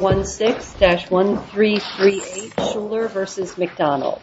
16-1338 Shuler v. McDonald Shuler v. McDonald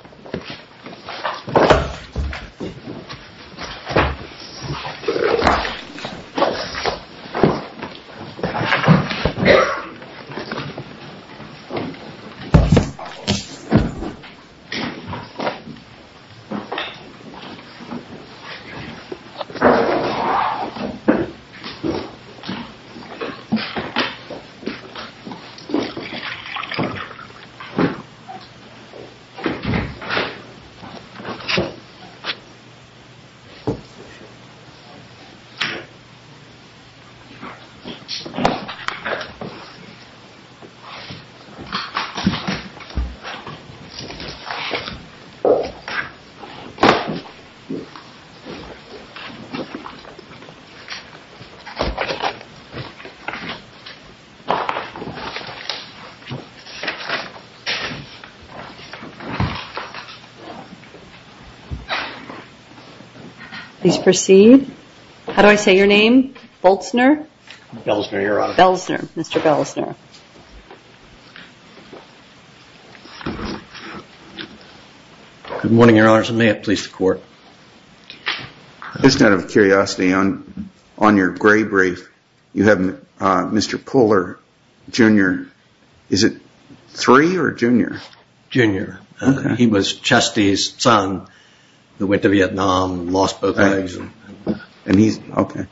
Please proceed. How do I say your name? Boltzner? Belzner, your honor. Belzner. Mr. Belzner. Good morning, your honor. May it please the court. Just out of curiosity, on your gray brief, you have Mr. Puller, Jr. Is it three or junior? Junior. He was Chesty's son, who went to Vietnam, lost both legs. And he's, okay.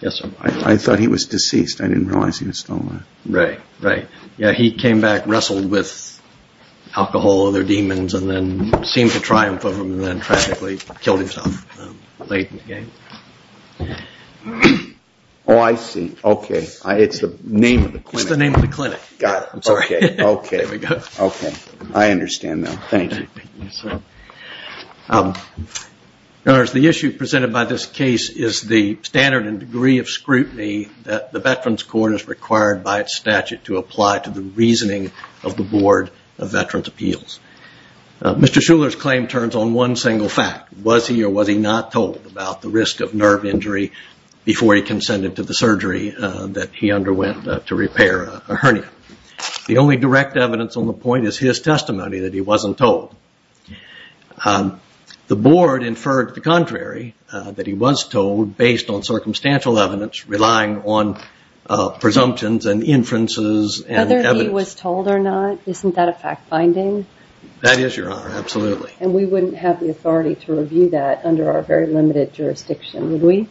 Yes, sir. I thought he was deceased. I didn't realize he was still alive. Right. Yeah, he came back, wrestled with alcohol, other demons, and then seemed to triumph over them, and then tragically killed himself late in the game. Oh, I see. Okay. It's the name of the clinic. It's the name of the clinic. Got it. Okay. Okay. There we go. Okay. I understand now. Thank you. Your honors, the issue presented by this case is the standard and degree of scrutiny that the Veterans Court is required by its statute to apply to the reasoning of the Board of Veterans' Appeals. Mr. Shuler's claim turns on one single fact. Was he or was he not told about the risk of nerve injury before he consented to the surgery that he underwent to repair a hernia? The only direct evidence on the point is his testimony that he wasn't told. The Board inferred the contrary, that he was told based on circumstantial evidence relying on presumptions and inferences and evidence. Whether he was told or not, isn't that a fact-finding? That is, Your Honor. Absolutely. And we wouldn't have the authority to review that under our very limited jurisdiction, would we?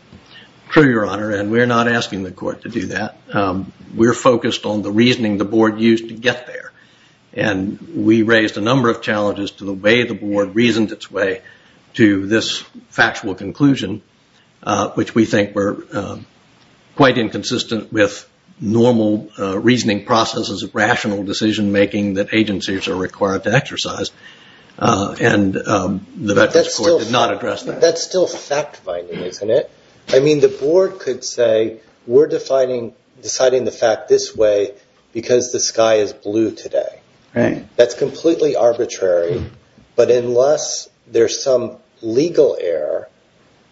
True, Your Honor, and we're not asking the court to do that. We're focused on the reasoning the board used to get there, and we raised a number of challenges to the way the board reasoned its way to this factual conclusion, which we think were quite inconsistent with normal reasoning processes of rational decision-making that agencies are required to exercise, and the Veterans Court did not address that. That's still fact-finding, isn't it? I mean, the board could say, we're deciding the fact this way because the sky is blue today. That's completely arbitrary, but unless there's some legal error,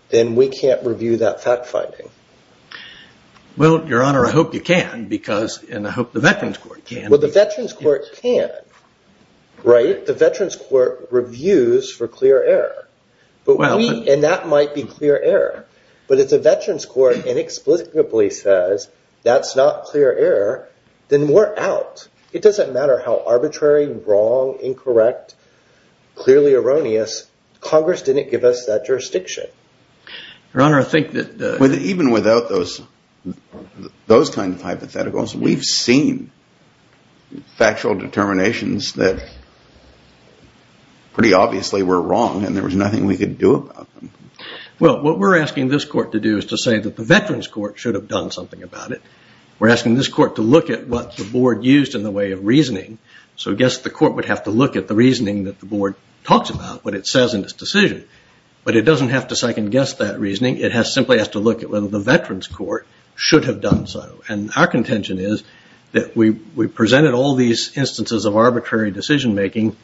then we can't review that fact-finding. Well, Your Honor, I hope you can, and I hope the Veterans Court can. Well, the Veterans Court can. The Veterans Court reviews for clear error, and that might be clear error, but if the Veterans Court inexplicably says that's not clear error, then we're out. It doesn't matter how arbitrary, wrong, incorrect, clearly erroneous. Congress didn't give us that jurisdiction. Your Honor, I think that the… Even without those kinds of hypotheticals, we've seen factual determinations that pretty obviously were wrong, and there was nothing we could do about them. Well, what we're asking this court to do is to say that the Veterans Court should have done something about it. We're asking this court to look at what the board used in the way of reasoning, so I guess the court would have to look at the reasoning that the board talks about, what it says in its decision, but it doesn't have to second-guess that reasoning. It simply has to look at whether the Veterans Court should have done so, and our contention is that we presented all these instances of arbitrary decision-making,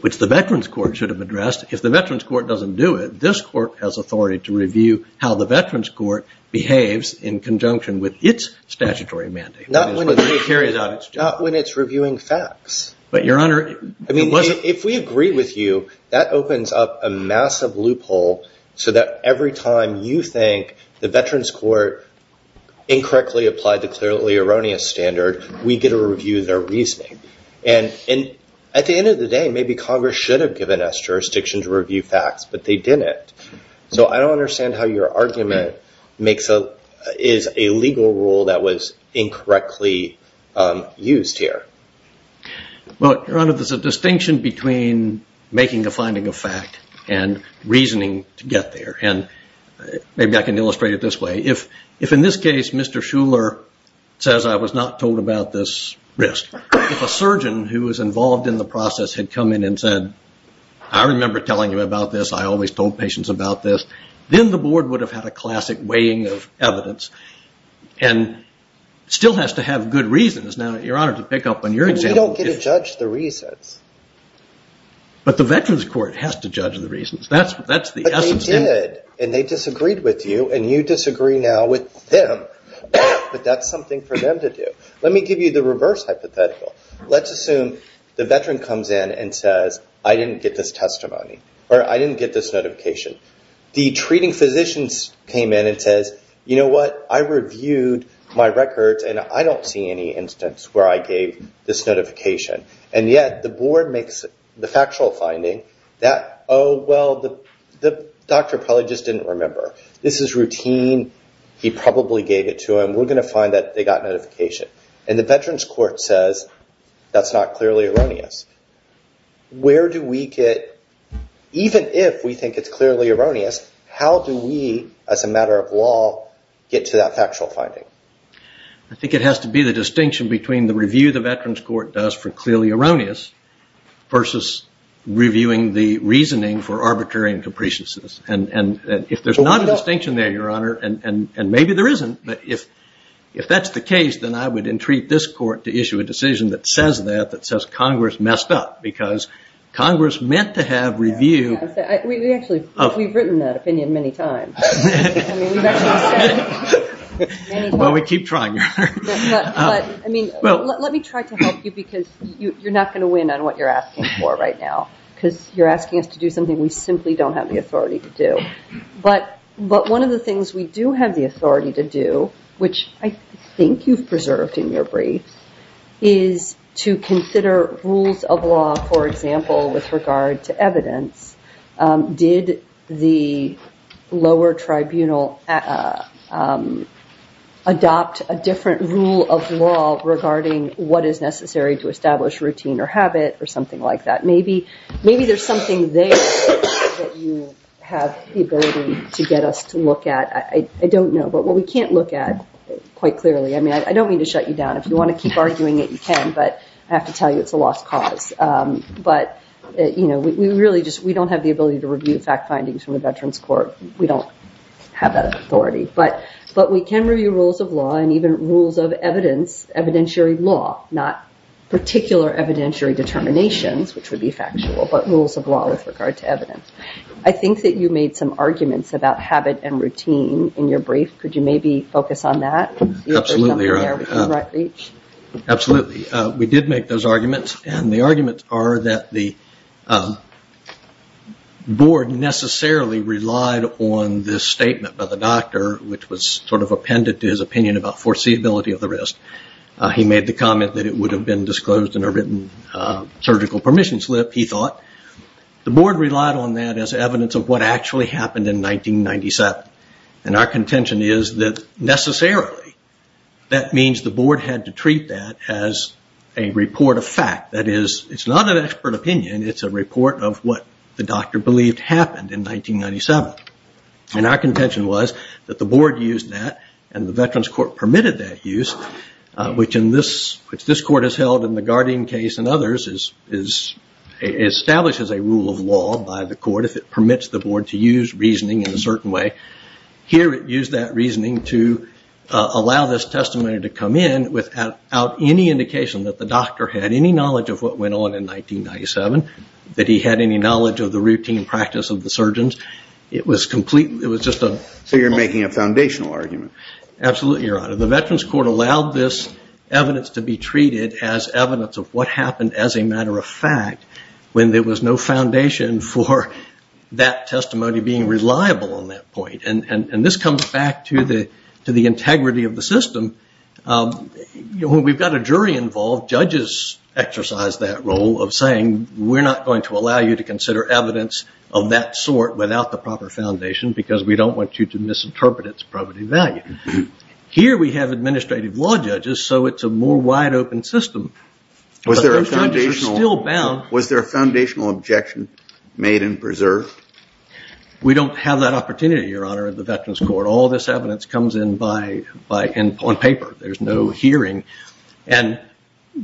which the Veterans Court should have addressed. If the Veterans Court doesn't do it, this court has authority to review how the Veterans Court behaves in conjunction with its statutory mandate. Not when it's reviewing facts. But, Your Honor, it wasn't… If we agree with you, that opens up a massive loophole so that every time you think the Veterans Court incorrectly applied the clearly erroneous standard, we get to review their reasoning. At the end of the day, maybe Congress should have given us jurisdiction to review facts, but they didn't, so I don't understand how your argument is a legal rule that was incorrectly used here. Well, Your Honor, there's a distinction between making a finding of fact and reasoning to get there, and maybe I can illustrate it this way. If, in this case, Mr. Shuler says I was not told about this risk, if a surgeon who was involved in the process had come in and said, I remember telling you about this, I always told patients about this, then the board would have had a classic weighing of evidence and still has to have good reasons. Now, Your Honor, to pick up on your example… We don't get to judge the reasons. But the Veterans Court has to judge the reasons. That's the essence of it. They did, and they disagreed with you, and you disagree now with them. But that's something for them to do. Let me give you the reverse hypothetical. Let's assume the veteran comes in and says, I didn't get this testimony, or I didn't get this notification. The treating physicians came in and says, you know what? I reviewed my records, and I don't see any instance where I gave this notification. And yet the board makes the factual finding that, oh, well, the doctor probably just didn't remember. This is routine. He probably gave it to him. We're going to find that they got notification. And the Veterans Court says that's not clearly erroneous. Where do we get, even if we think it's clearly erroneous, how do we, as a matter of law, get to that factual finding? I think it has to be the distinction between the review the Veterans Court does for clearly erroneous versus reviewing the reasoning for arbitrary and capriciousness. And if there's not a distinction there, Your Honor, and maybe there isn't, but if that's the case, then I would entreat this court to issue a decision that says that, that says Congress messed up, because Congress meant to have review. We've written that opinion many times. Well, we keep trying, Your Honor. But, I mean, let me try to help you, because you're not going to win on what you're asking for right now, because you're asking us to do something we simply don't have the authority to do. But one of the things we do have the authority to do, which I think you've preserved in your brief, is to consider rules of law, for example, with regard to evidence. Did the lower tribunal adopt a different rule of law regarding what is necessary to establish routine or habit or something like that? Maybe there's something there that you have the ability to get us to look at. I don't know, but what we can't look at quite clearly. I mean, I don't mean to shut you down. If you want to keep arguing it, you can, but I have to tell you it's a lost cause. But, you know, we really just don't have the ability to review fact findings from the Veterans Court. We don't have that authority. But we can review rules of law and even rules of evidence, evidentiary law, not particular evidentiary determinations, which would be factual, but rules of law with regard to evidence. I think that you made some arguments about habit and routine in your brief. Absolutely, Your Honor. My arguments are that the board necessarily relied on this statement by the doctor, which was sort of appended to his opinion about foreseeability of the risk. He made the comment that it would have been disclosed in a written surgical permissions slip, he thought. The board relied on that as evidence of what actually happened in 1997. And our contention is that necessarily that means the board had to treat that as a report of fact. It's not an expert opinion, it's a report of what the doctor believed happened in 1997. And our contention was that the board used that and the Veterans Court permitted that use, which this court has held in the Guardian case and others establishes a rule of law by the court if it permits the board to use reasoning in a certain way. Here it used that reasoning to allow this testimony to come in without any indication that the doctor had any knowledge of what went on in 1997, that he had any knowledge of the routine practice of the surgeons. So you're making a foundational argument. Absolutely, Your Honor. The Veterans Court allowed this evidence to be treated as evidence of what happened as a matter of fact when there was no foundation for that testimony being reliable on that point. And this comes back to the integrity of the system. When we've got a jury involved, judges exercise that role of saying, we're not going to allow you to consider evidence of that sort without the proper foundation because we don't want you to misinterpret its property value. Here we have administrative law judges, so it's a more wide open system. But those judges are still bound. Was there a foundational objection made and preserved? We don't have that opportunity, Your Honor, in the Veterans Court. All this evidence comes in on paper. There's no hearing. And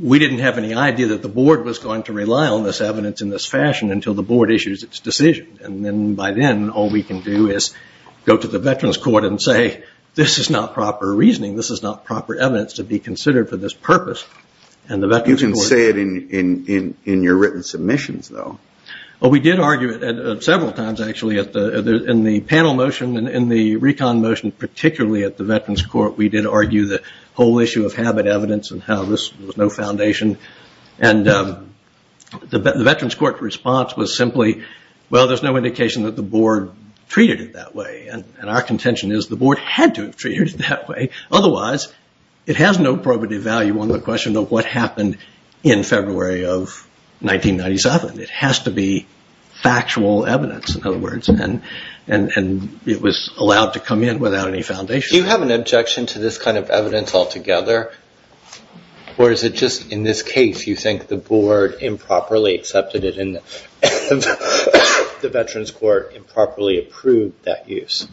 we didn't have any idea that the board was going to rely on this evidence in this fashion until the board issues its decision. And then by then, all we can do is go to the Veterans Court and say, this is not proper reasoning. This is not proper evidence to be considered for this purpose. You can say it in your written submissions, though. Well, we did argue it several times, actually. In the panel motion and in the recon motion, particularly at the Veterans Court, we did argue the whole issue of habit evidence and how this was no foundation. And the Veterans Court response was simply, well, there's no indication that the board treated it that way. And our contention is the board had to have treated it that way. Otherwise, it has no probative value on the question of what happened in February of 1997. It has to be factual evidence, in other words, and it was allowed to come in without any foundation. Do you have an objection to this kind of evidence altogether? Or is it just in this case you think the board improperly accepted it and the Veterans Court improperly approved that use?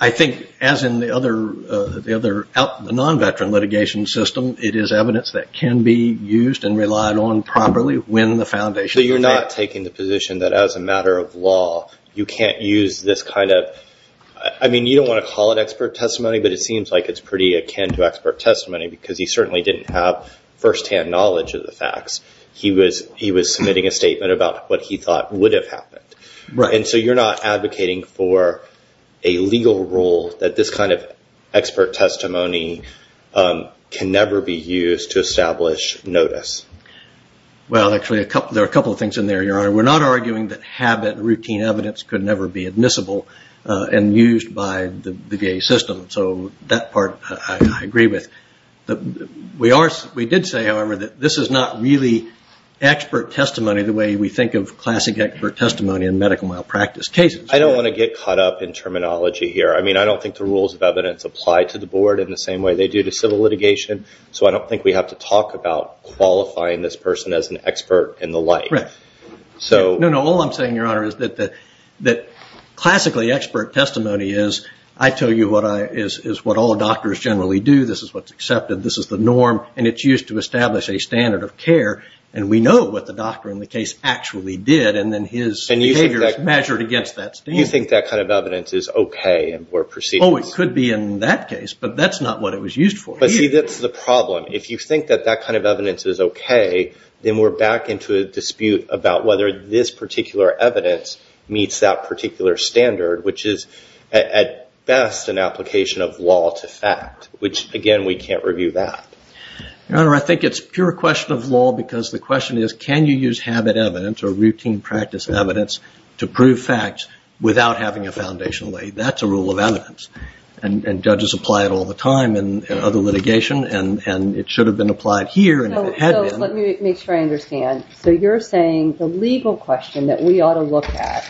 I think, as in the non-veteran litigation system, it is evidence that can be used and relied on properly when the foundation is met. So you're not taking the position that as a matter of law, you can't use this kind of – I mean, you don't want to call it expert testimony, but it seems like it's pretty akin to expert testimony because he certainly didn't have firsthand knowledge of the facts. He was submitting a statement about what he thought would have happened. And so you're not advocating for a legal rule that this kind of expert testimony can never be used to establish notice? Well, actually, there are a couple of things in there, Your Honor. We're not arguing that habit, routine evidence could never be admissible and used by the VA system, so that part I agree with. We did say, however, that this is not really expert testimony the way we think of classic expert testimony in medical malpractice cases. I don't want to get caught up in terminology here. I mean, I don't think the rules of evidence apply to the Board in the same way they do to civil litigation, so I don't think we have to talk about qualifying this person as an expert in the light. No, no, all I'm saying, Your Honor, is that classically expert testimony is, I tell you what all doctors generally do. This is what's accepted. This is the norm, and it's used to establish a standard of care, and we know what the doctor in the case actually did, and then his behavior is measured against that standard. You think that kind of evidence is okay in Board proceedings? Oh, it could be in that case, but that's not what it was used for. But see, that's the problem. If you think that that kind of evidence is okay, then we're back into a dispute about whether this particular evidence meets that particular standard, which is at best an application of law to fact, which, again, we can't review that. Your Honor, I think it's pure question of law, because the question is can you use habit evidence or routine practice evidence to prove facts without having a foundation laid? That's a rule of evidence, and judges apply it all the time in other litigation, and it should have been applied here. So let me make sure I understand. So you're saying the legal question that we ought to look at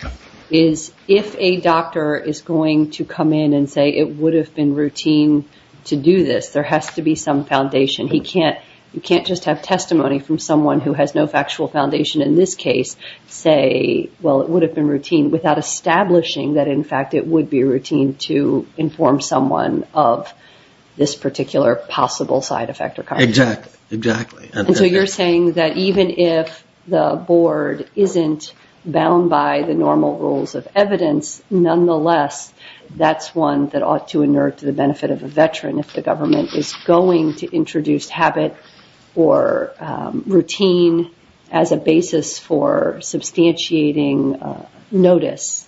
is if a doctor is going to come in and say it would have been routine to do this, there has to be some foundation. You can't just have testimony from someone who has no factual foundation in this case say, well, it would have been routine, without establishing that, in fact, it would be routine to inform someone of this particular possible side effect or consequence. Exactly. And so you're saying that even if the Board isn't bound by the normal rules of evidence, nonetheless, that's one that ought to inert to the benefit of a veteran if the government is going to introduce habit or routine as a basis for substantiating notice,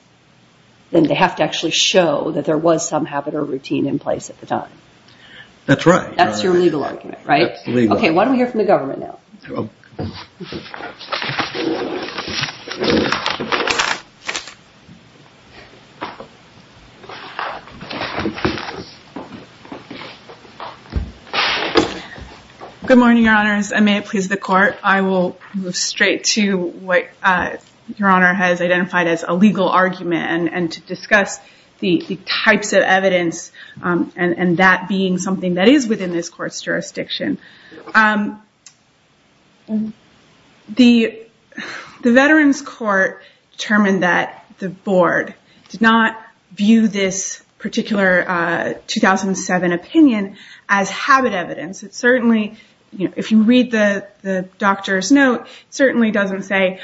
then they have to actually show that there was some habit or routine in place at the time. That's right. That's your legal argument, right? That's legal. Okay, why don't we hear from the government now? Good morning, Your Honors, and may it please the Court, I will move straight to what Your Honor has identified as a legal argument and to discuss the types of evidence and that being something that is within this Court's jurisdiction. The Veterans Court determined that the Board did not view this particular 2007 opinion as habit evidence. If you read the doctor's note, it certainly doesn't say,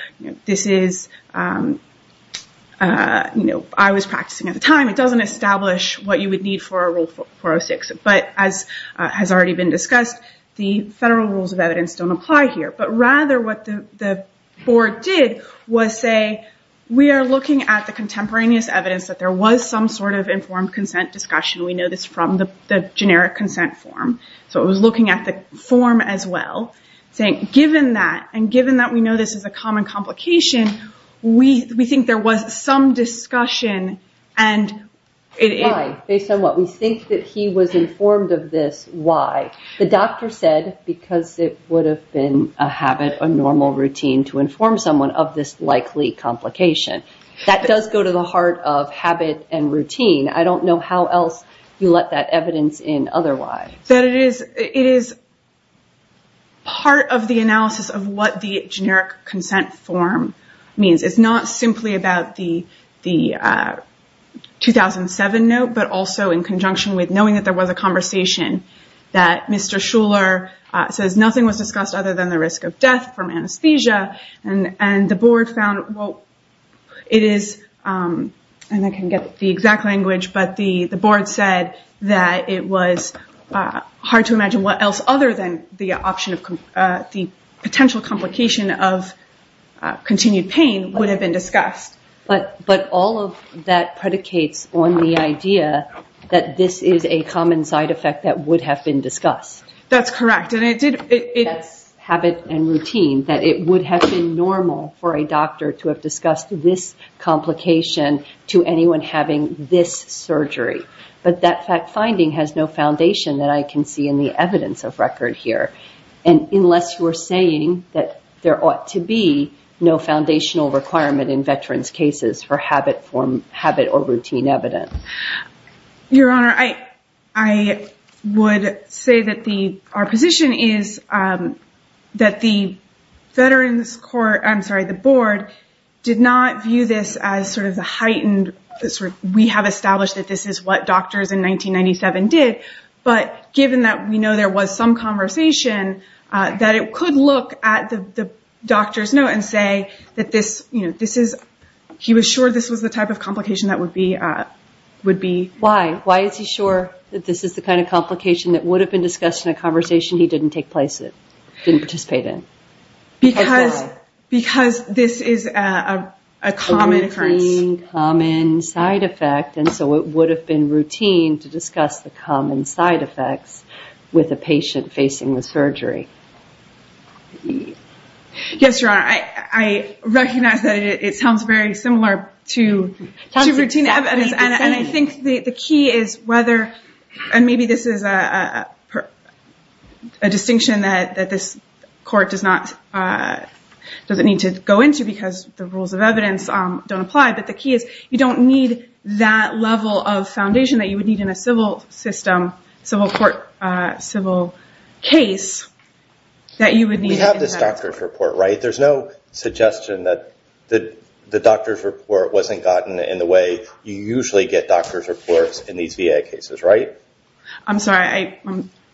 I was practicing at the time. It doesn't establish what you would need for a Rule 406. But as has already been discussed, the federal rules of evidence don't apply here. But rather what the Board did was say, we are looking at the contemporaneous evidence that there was some sort of informed consent discussion. We know this from the generic consent form. So it was looking at the form as well, saying, given that, and given that we know this is a common complication, we think there was some discussion. Based on what? We think that he was informed of this. Why? The doctor said because it would have been a habit or normal routine to inform someone of this likely complication. That does go to the heart of habit and routine. I don't know how else you let that evidence in otherwise. It is part of the analysis of what the generic consent form means. It's not simply about the 2007 note, but also in conjunction with knowing that there was a conversation, that Mr. Shuler says nothing was discussed other than the risk of death from anesthesia. And the Board found, and I can get the exact language, but the Board said that it was hard to imagine what else other than the potential complication of continued pain would have been discussed. But all of that predicates on the idea that this is a common side effect that would have been discussed. That's correct. Habit and routine, that it would have been normal for a doctor to have discussed this complication to anyone having this surgery. But that finding has no foundation that I can see in the evidence of record here. And unless you are saying that there ought to be no foundational requirement in veterans' cases for habit or routine evidence. Your Honor, I would say that our position is that the Board did not view this as sort of the heightened, we have established that this is what doctors in 1997 did, but given that we know there was some conversation, that it could look at the doctor's note and say that he was sure this was the type of complication that would be... Why? Why is he sure that this is the kind of complication that would have been discussed in a conversation he didn't participate in? Because this is a common occurrence. And so it would have been routine to discuss the common side effects with a patient facing the surgery. Yes, Your Honor. I recognize that it sounds very similar to routine evidence. And I think the key is whether, and maybe this is a distinction that this court doesn't need to go into because the rules of evidence don't apply, but the key is you don't need that level of foundation that you would need in a civil system, civil court, civil case that you would need... We have this doctor's report, right? There's no suggestion that the doctor's report wasn't gotten in the way you usually get doctor's reports in these VA cases, right? I'm sorry.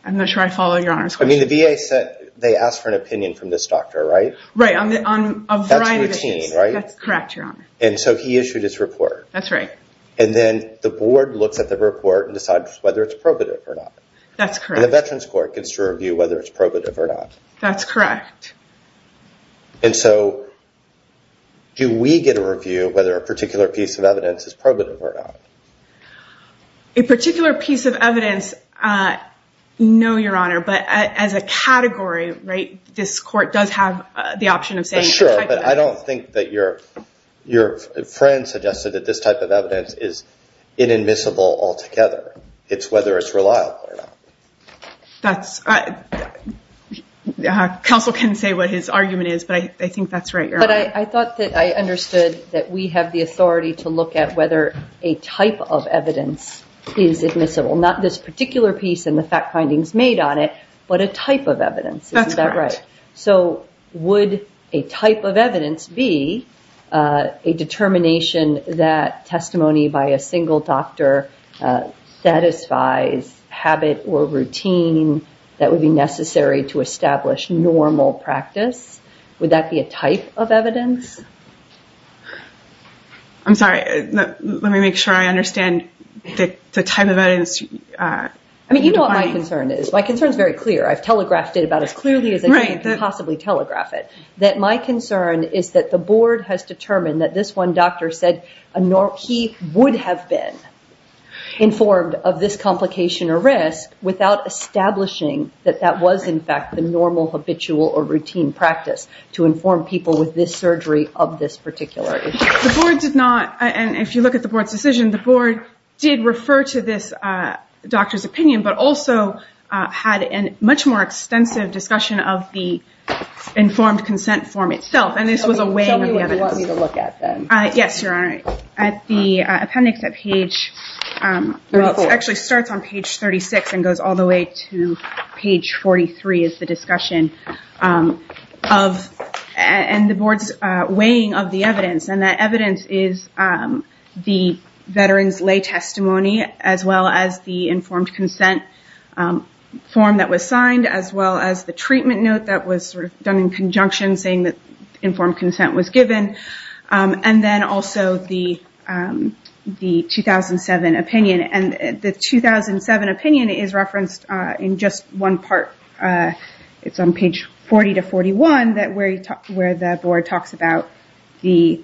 I'm not sure I follow Your Honor's question. I mean, the VA said they asked for an opinion from this doctor, right? Right, on a variety of issues. That's routine, right? And so he issued his report. That's right. And then the board looks at the report and decides whether it's probative or not. That's correct. And the Veterans Court gets to review whether it's probative or not. That's correct. And so do we get a review whether a particular piece of evidence is probative or not? A particular piece of evidence, no, Your Honor, but as a category, right, this court does have the option of saying... Sure, but I don't think that your friend suggested that this type of evidence is inadmissible altogether. It's whether it's reliable or not. That's... Counsel can say what his argument is, but I think that's right, Your Honor. But I thought that I understood that we have the authority to look at whether a type of evidence is admissible, not this particular piece and the fact findings made on it, but a type of evidence. Isn't that right? That's correct. So would a type of evidence be a determination that testimony by a single doctor satisfies habit or routine that would be necessary to establish normal practice? Would that be a type of evidence? I'm sorry. Let me make sure I understand the type of evidence. I mean, you know what my concern is. My concern is very clear. I've telegraphed it about as clearly as I can possibly telegraph it. That my concern is that the board has determined that this one doctor said he would have been informed of this complication or risk without establishing that that was, in fact, the normal habitual or routine practice to inform people with this surgery of this particular issue. The board did not, and if you look at the board's decision, the board did refer to this doctor's opinion, but also had a much more extensive discussion of the informed consent form itself, and this was a weighing of the evidence. Tell me what you want me to look at then. Yes, Your Honor. At the appendix at page, well, it actually starts on page 36 and goes all the way to page 43 is the discussion of, and the board's weighing of the evidence, and that evidence is the veteran's lay testimony as well as the informed consent form that was signed as well as the treatment note that was done in conjunction saying that informed consent was given, and then also the 2007 opinion. The 2007 opinion is referenced in just one part. It's on page 40 to 41 where the board talks about the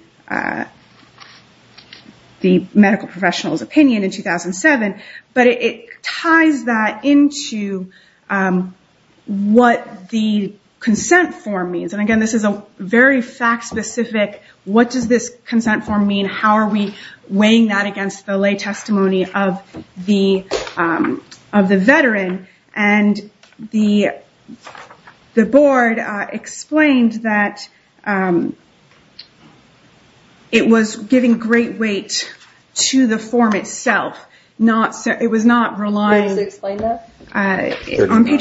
medical professional's opinion in 2007, but it ties that into what the consent form means, and again, this is a very fact-specific, what does this consent form mean, how are we weighing that against the lay testimony of the veteran, and the board explained that it was giving great weight to the form itself. It was not relying on page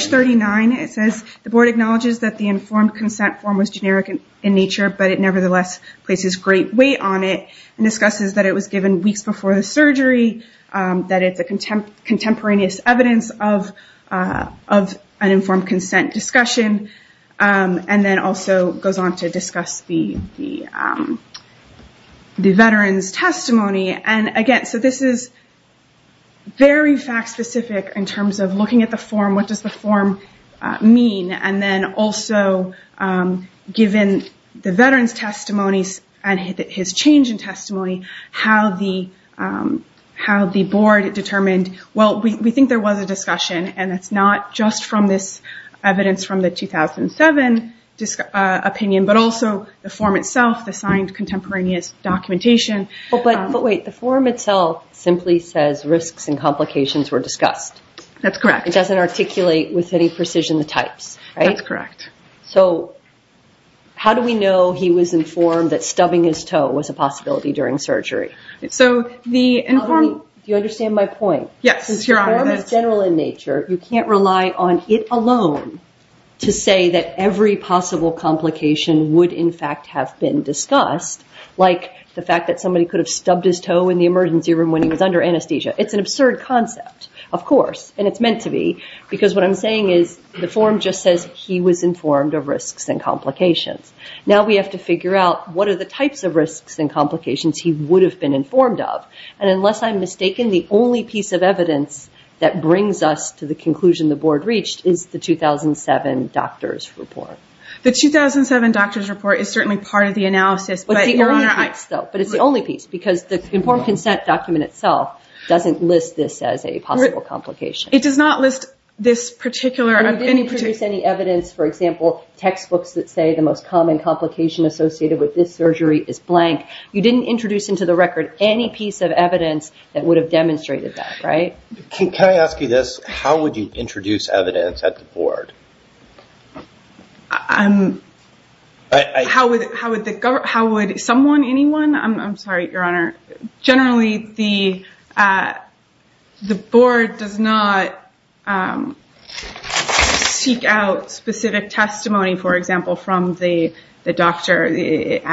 39. It says the board acknowledges that the informed consent form was generic in nature, but it nevertheless places great weight on it and discusses that it was given weeks before the surgery, that it's a contemporaneous evidence of an informed consent discussion, and then also goes on to discuss the veteran's testimony. Again, this is very fact-specific in terms of looking at the form, what does the form mean, and then also given the veteran's testimony and his change in testimony, how the board determined, well, we think there was a discussion, and it's not just from this evidence from the 2007 opinion, but also the form itself, the signed contemporaneous documentation. But wait, the form itself simply says risks and complications were discussed. That's correct. It doesn't articulate with any precision the types, right? That's correct. So how do we know he was informed that stubbing his toe was a possibility during surgery? Do you understand my point? Yes. The form is general in nature. You can't rely on it alone to say that every possible complication would in fact have been discussed, like the fact that somebody could have stubbed his toe in the emergency room when he was under anesthesia. It's an absurd concept, of course, and it's meant to be, because what I'm saying is the form just says he was informed of risks and complications. Now we have to figure out what are the types of risks and complications he would have been informed of, and unless I'm mistaken, the only piece of evidence that brings us to the conclusion the board reached is the 2007 doctor's report. But it's the only piece, because the informed consent document itself doesn't list this as a possible complication. It does not list this particular. You didn't introduce any evidence, for example, textbooks that say the most common complication associated with this surgery is blank. You didn't introduce into the record any piece of evidence that would have demonstrated that, right? Can I ask you this? How would you introduce evidence at the board? How would someone, anyone? I'm sorry, Your Honor. Generally, the board does not seek out specific testimony, for example, from the doctor. It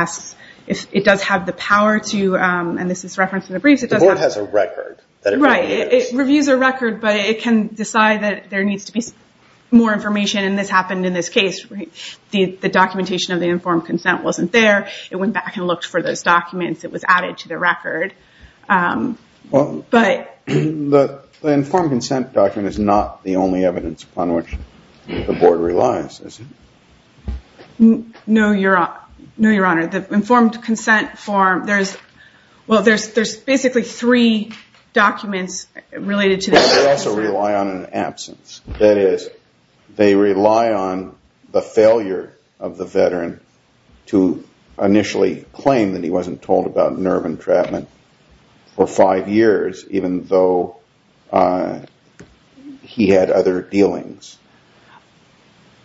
does have the power to, and this is referenced in the briefs. The board has a record that it reviews. It reviews a record, but it can decide that there needs to be more information, and this happened in this case. The documentation of the informed consent wasn't there. It went back and looked for those documents. It was added to the record. The informed consent document is not the only evidence upon which the board relies, is it? No, Your Honor. The informed consent form, there's basically three documents related to this. They also rely on an absence. That is, they rely on the failure of the veteran to initially claim that he wasn't told about nerve entrapment for five years, even though he had other dealings.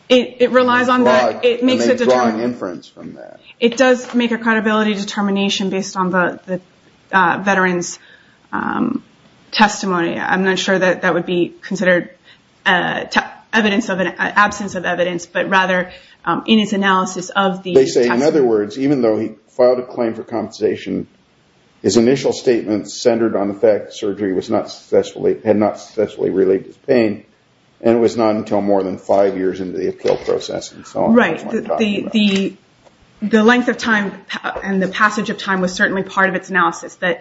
It relies on that. It makes a drawing inference from that. It does make a credibility determination based on the veteran's testimony. I'm not sure that that would be considered evidence of an absence of evidence, but rather in its analysis of the testimony. They say, in other words, even though he filed a claim for compensation, his initial statement centered on the fact that surgery had not successfully relieved his pain, and it was not until more than five years into the appeal process. Right. The length of time and the passage of time was certainly part of its analysis. The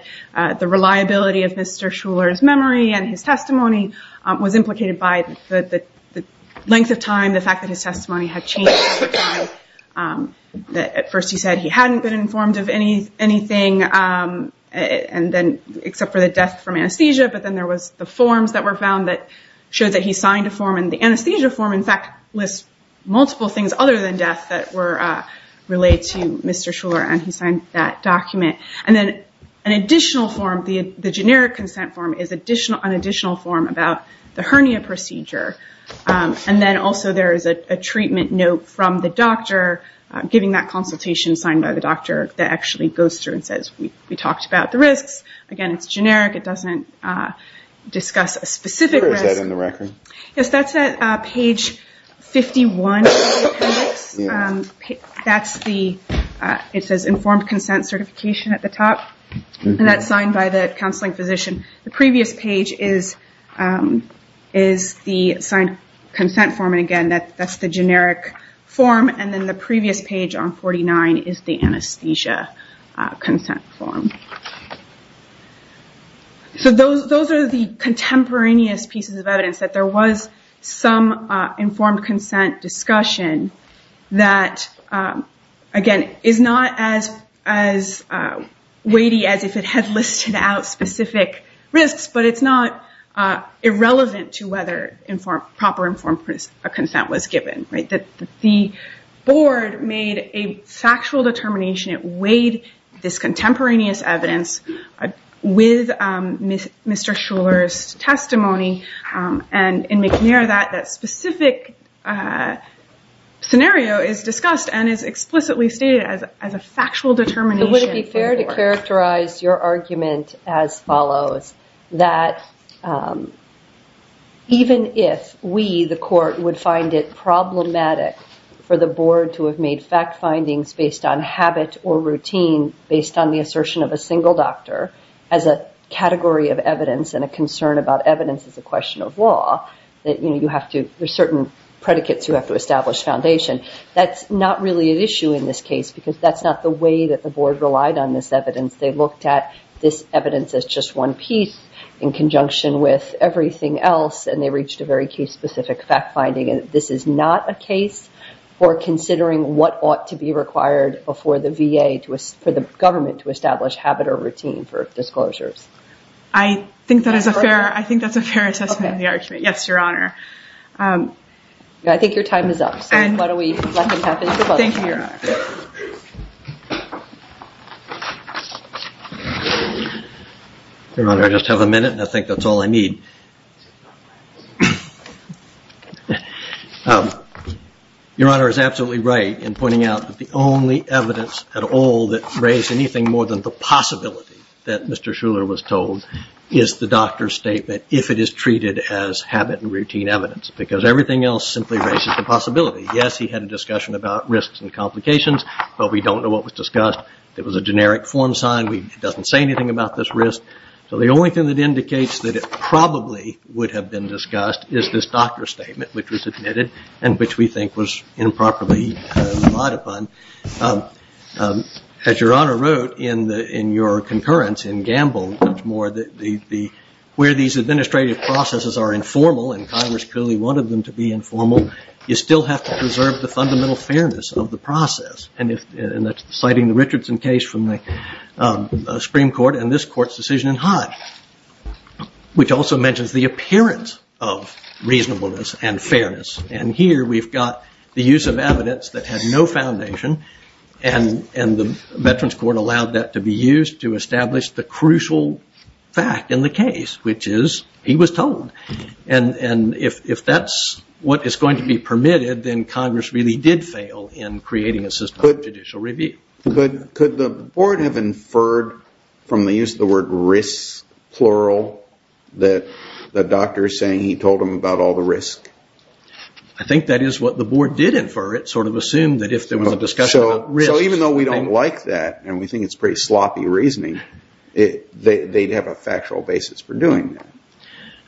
reliability of Mr. Shuler's memory and his testimony was implicated by the length of time, the fact that his testimony had changed over time. At first he said he hadn't been informed of anything except for the death from anesthesia, but then there was the forms that were found that showed that he signed a form. The anesthesia form, in fact, lists multiple things other than death that were related to Mr. Shuler, and he signed that document. Then an additional form, the generic consent form, is an additional form about the hernia procedure. Then also there is a treatment note from the doctor giving that consultation signed by the doctor that actually goes through and says, we talked about the risks. Again, it's generic. It doesn't discuss a specific risk. Where is that in the record? Yes, that's at page 51 of the appendix. It says informed consent certification at the top, and that's signed by the counseling physician. The previous page is the signed consent form, and again, that's the generic form. Then the previous page on 49 is the anesthesia consent form. Those are the contemporaneous pieces of evidence that there was some informed consent discussion that, again, is not as weighty as if it had listed out specific risks, but it's not irrelevant to whether proper informed consent was given. The board made a factual determination. It weighed this contemporaneous evidence with Mr. Shuler's testimony, and in McNair that specific scenario is discussed and is explicitly stated as a factual determination. Would it be fair to characterize your argument as follows, that even if we, the court, would find it problematic for the board to have made fact findings based on habit or routine based on the assertion of a single doctor as a category of evidence and a concern about evidence as a question of law, that there are certain predicates you have to establish foundation, that's not really an issue in this case because that's not the way that the board relied on this evidence. They looked at this evidence as just one piece in conjunction with everything else, and they reached a very case-specific fact finding. This is not a case for considering what ought to be required for the VA, for the government to establish habit or routine for disclosures. I think that's a fair assessment of the argument. Yes, Your Honor. I think your time is up. Thank you, Your Honor. Your Honor, I just have a minute and I think that's all I need. Your Honor is absolutely right in pointing out that the only evidence at all that raised anything more than the possibility that Mr. Shuler was told is the doctor's statement if it is treated as habit and routine evidence because everything else simply raises the possibility. Yes, he had a discussion about risks and complications, but we don't know what was discussed. It was a generic form sign. It doesn't say anything about this risk. So the only thing that indicates that it probably would have been discussed is this doctor's statement, which was admitted and which we think was improperly relied upon. As Your Honor wrote in your concurrence in Gamble, much more where these administrative processes are informal and Congress clearly wanted them to be informal, you still have to preserve the fundamental fairness of the process. And that's citing the Richardson case from the Supreme Court and this Court's decision in Hodge, which also mentions the appearance of reasonableness and fairness. And here we've got the use of evidence that had no foundation and the Veterans Court allowed that to be used to establish the crucial fact in the case, which is he was told. And if that's what is going to be permitted, then Congress really did fail in creating a system of judicial review. Could the Board have inferred from the use of the word risk, plural, that the doctor is saying he told him about all the risk? I think that is what the Board did infer. It sort of assumed that if there was a discussion about risk... So even though we don't like that and we think it's pretty sloppy reasoning, they'd have a factual basis for doing that.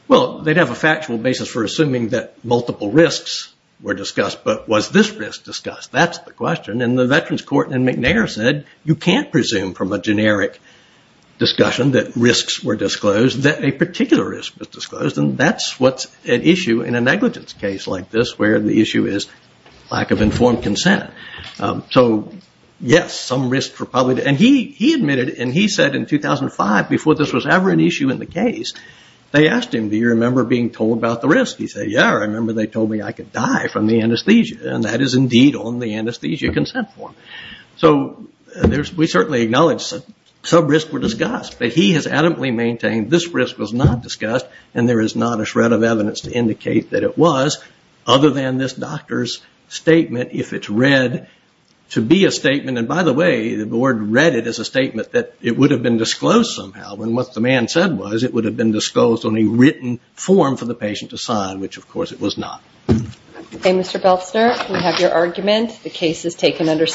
Well, they'd have a factual basis for assuming that multiple risks were discussed, but was this risk discussed? That's the question. And the Veterans Court in McNair said you can't presume from a generic discussion that risks were disclosed, that a particular risk was disclosed, and that's what's at issue in a negligence case like this, where the issue is lack of informed consent. So, yes, some risks were probably... And he admitted, and he said in 2005, before this was ever an issue in the case, they asked him, do you remember being told about the risk? He said, yeah, I remember they told me I could die from the anesthesia, and that is indeed on the anesthesia consent form. So we certainly acknowledge that some risks were discussed, but he has adamantly maintained this risk was not discussed and there is not a shred of evidence to indicate that it was, other than this doctor's statement, if it's read to be a statement. And, by the way, the board read it as a statement that it would have been disclosed somehow, and what the man said was it would have been disclosed on a written form for the patient to sign, which, of course, it was not. Okay, Mr. Beltsner, we have your argument. The case is taken under...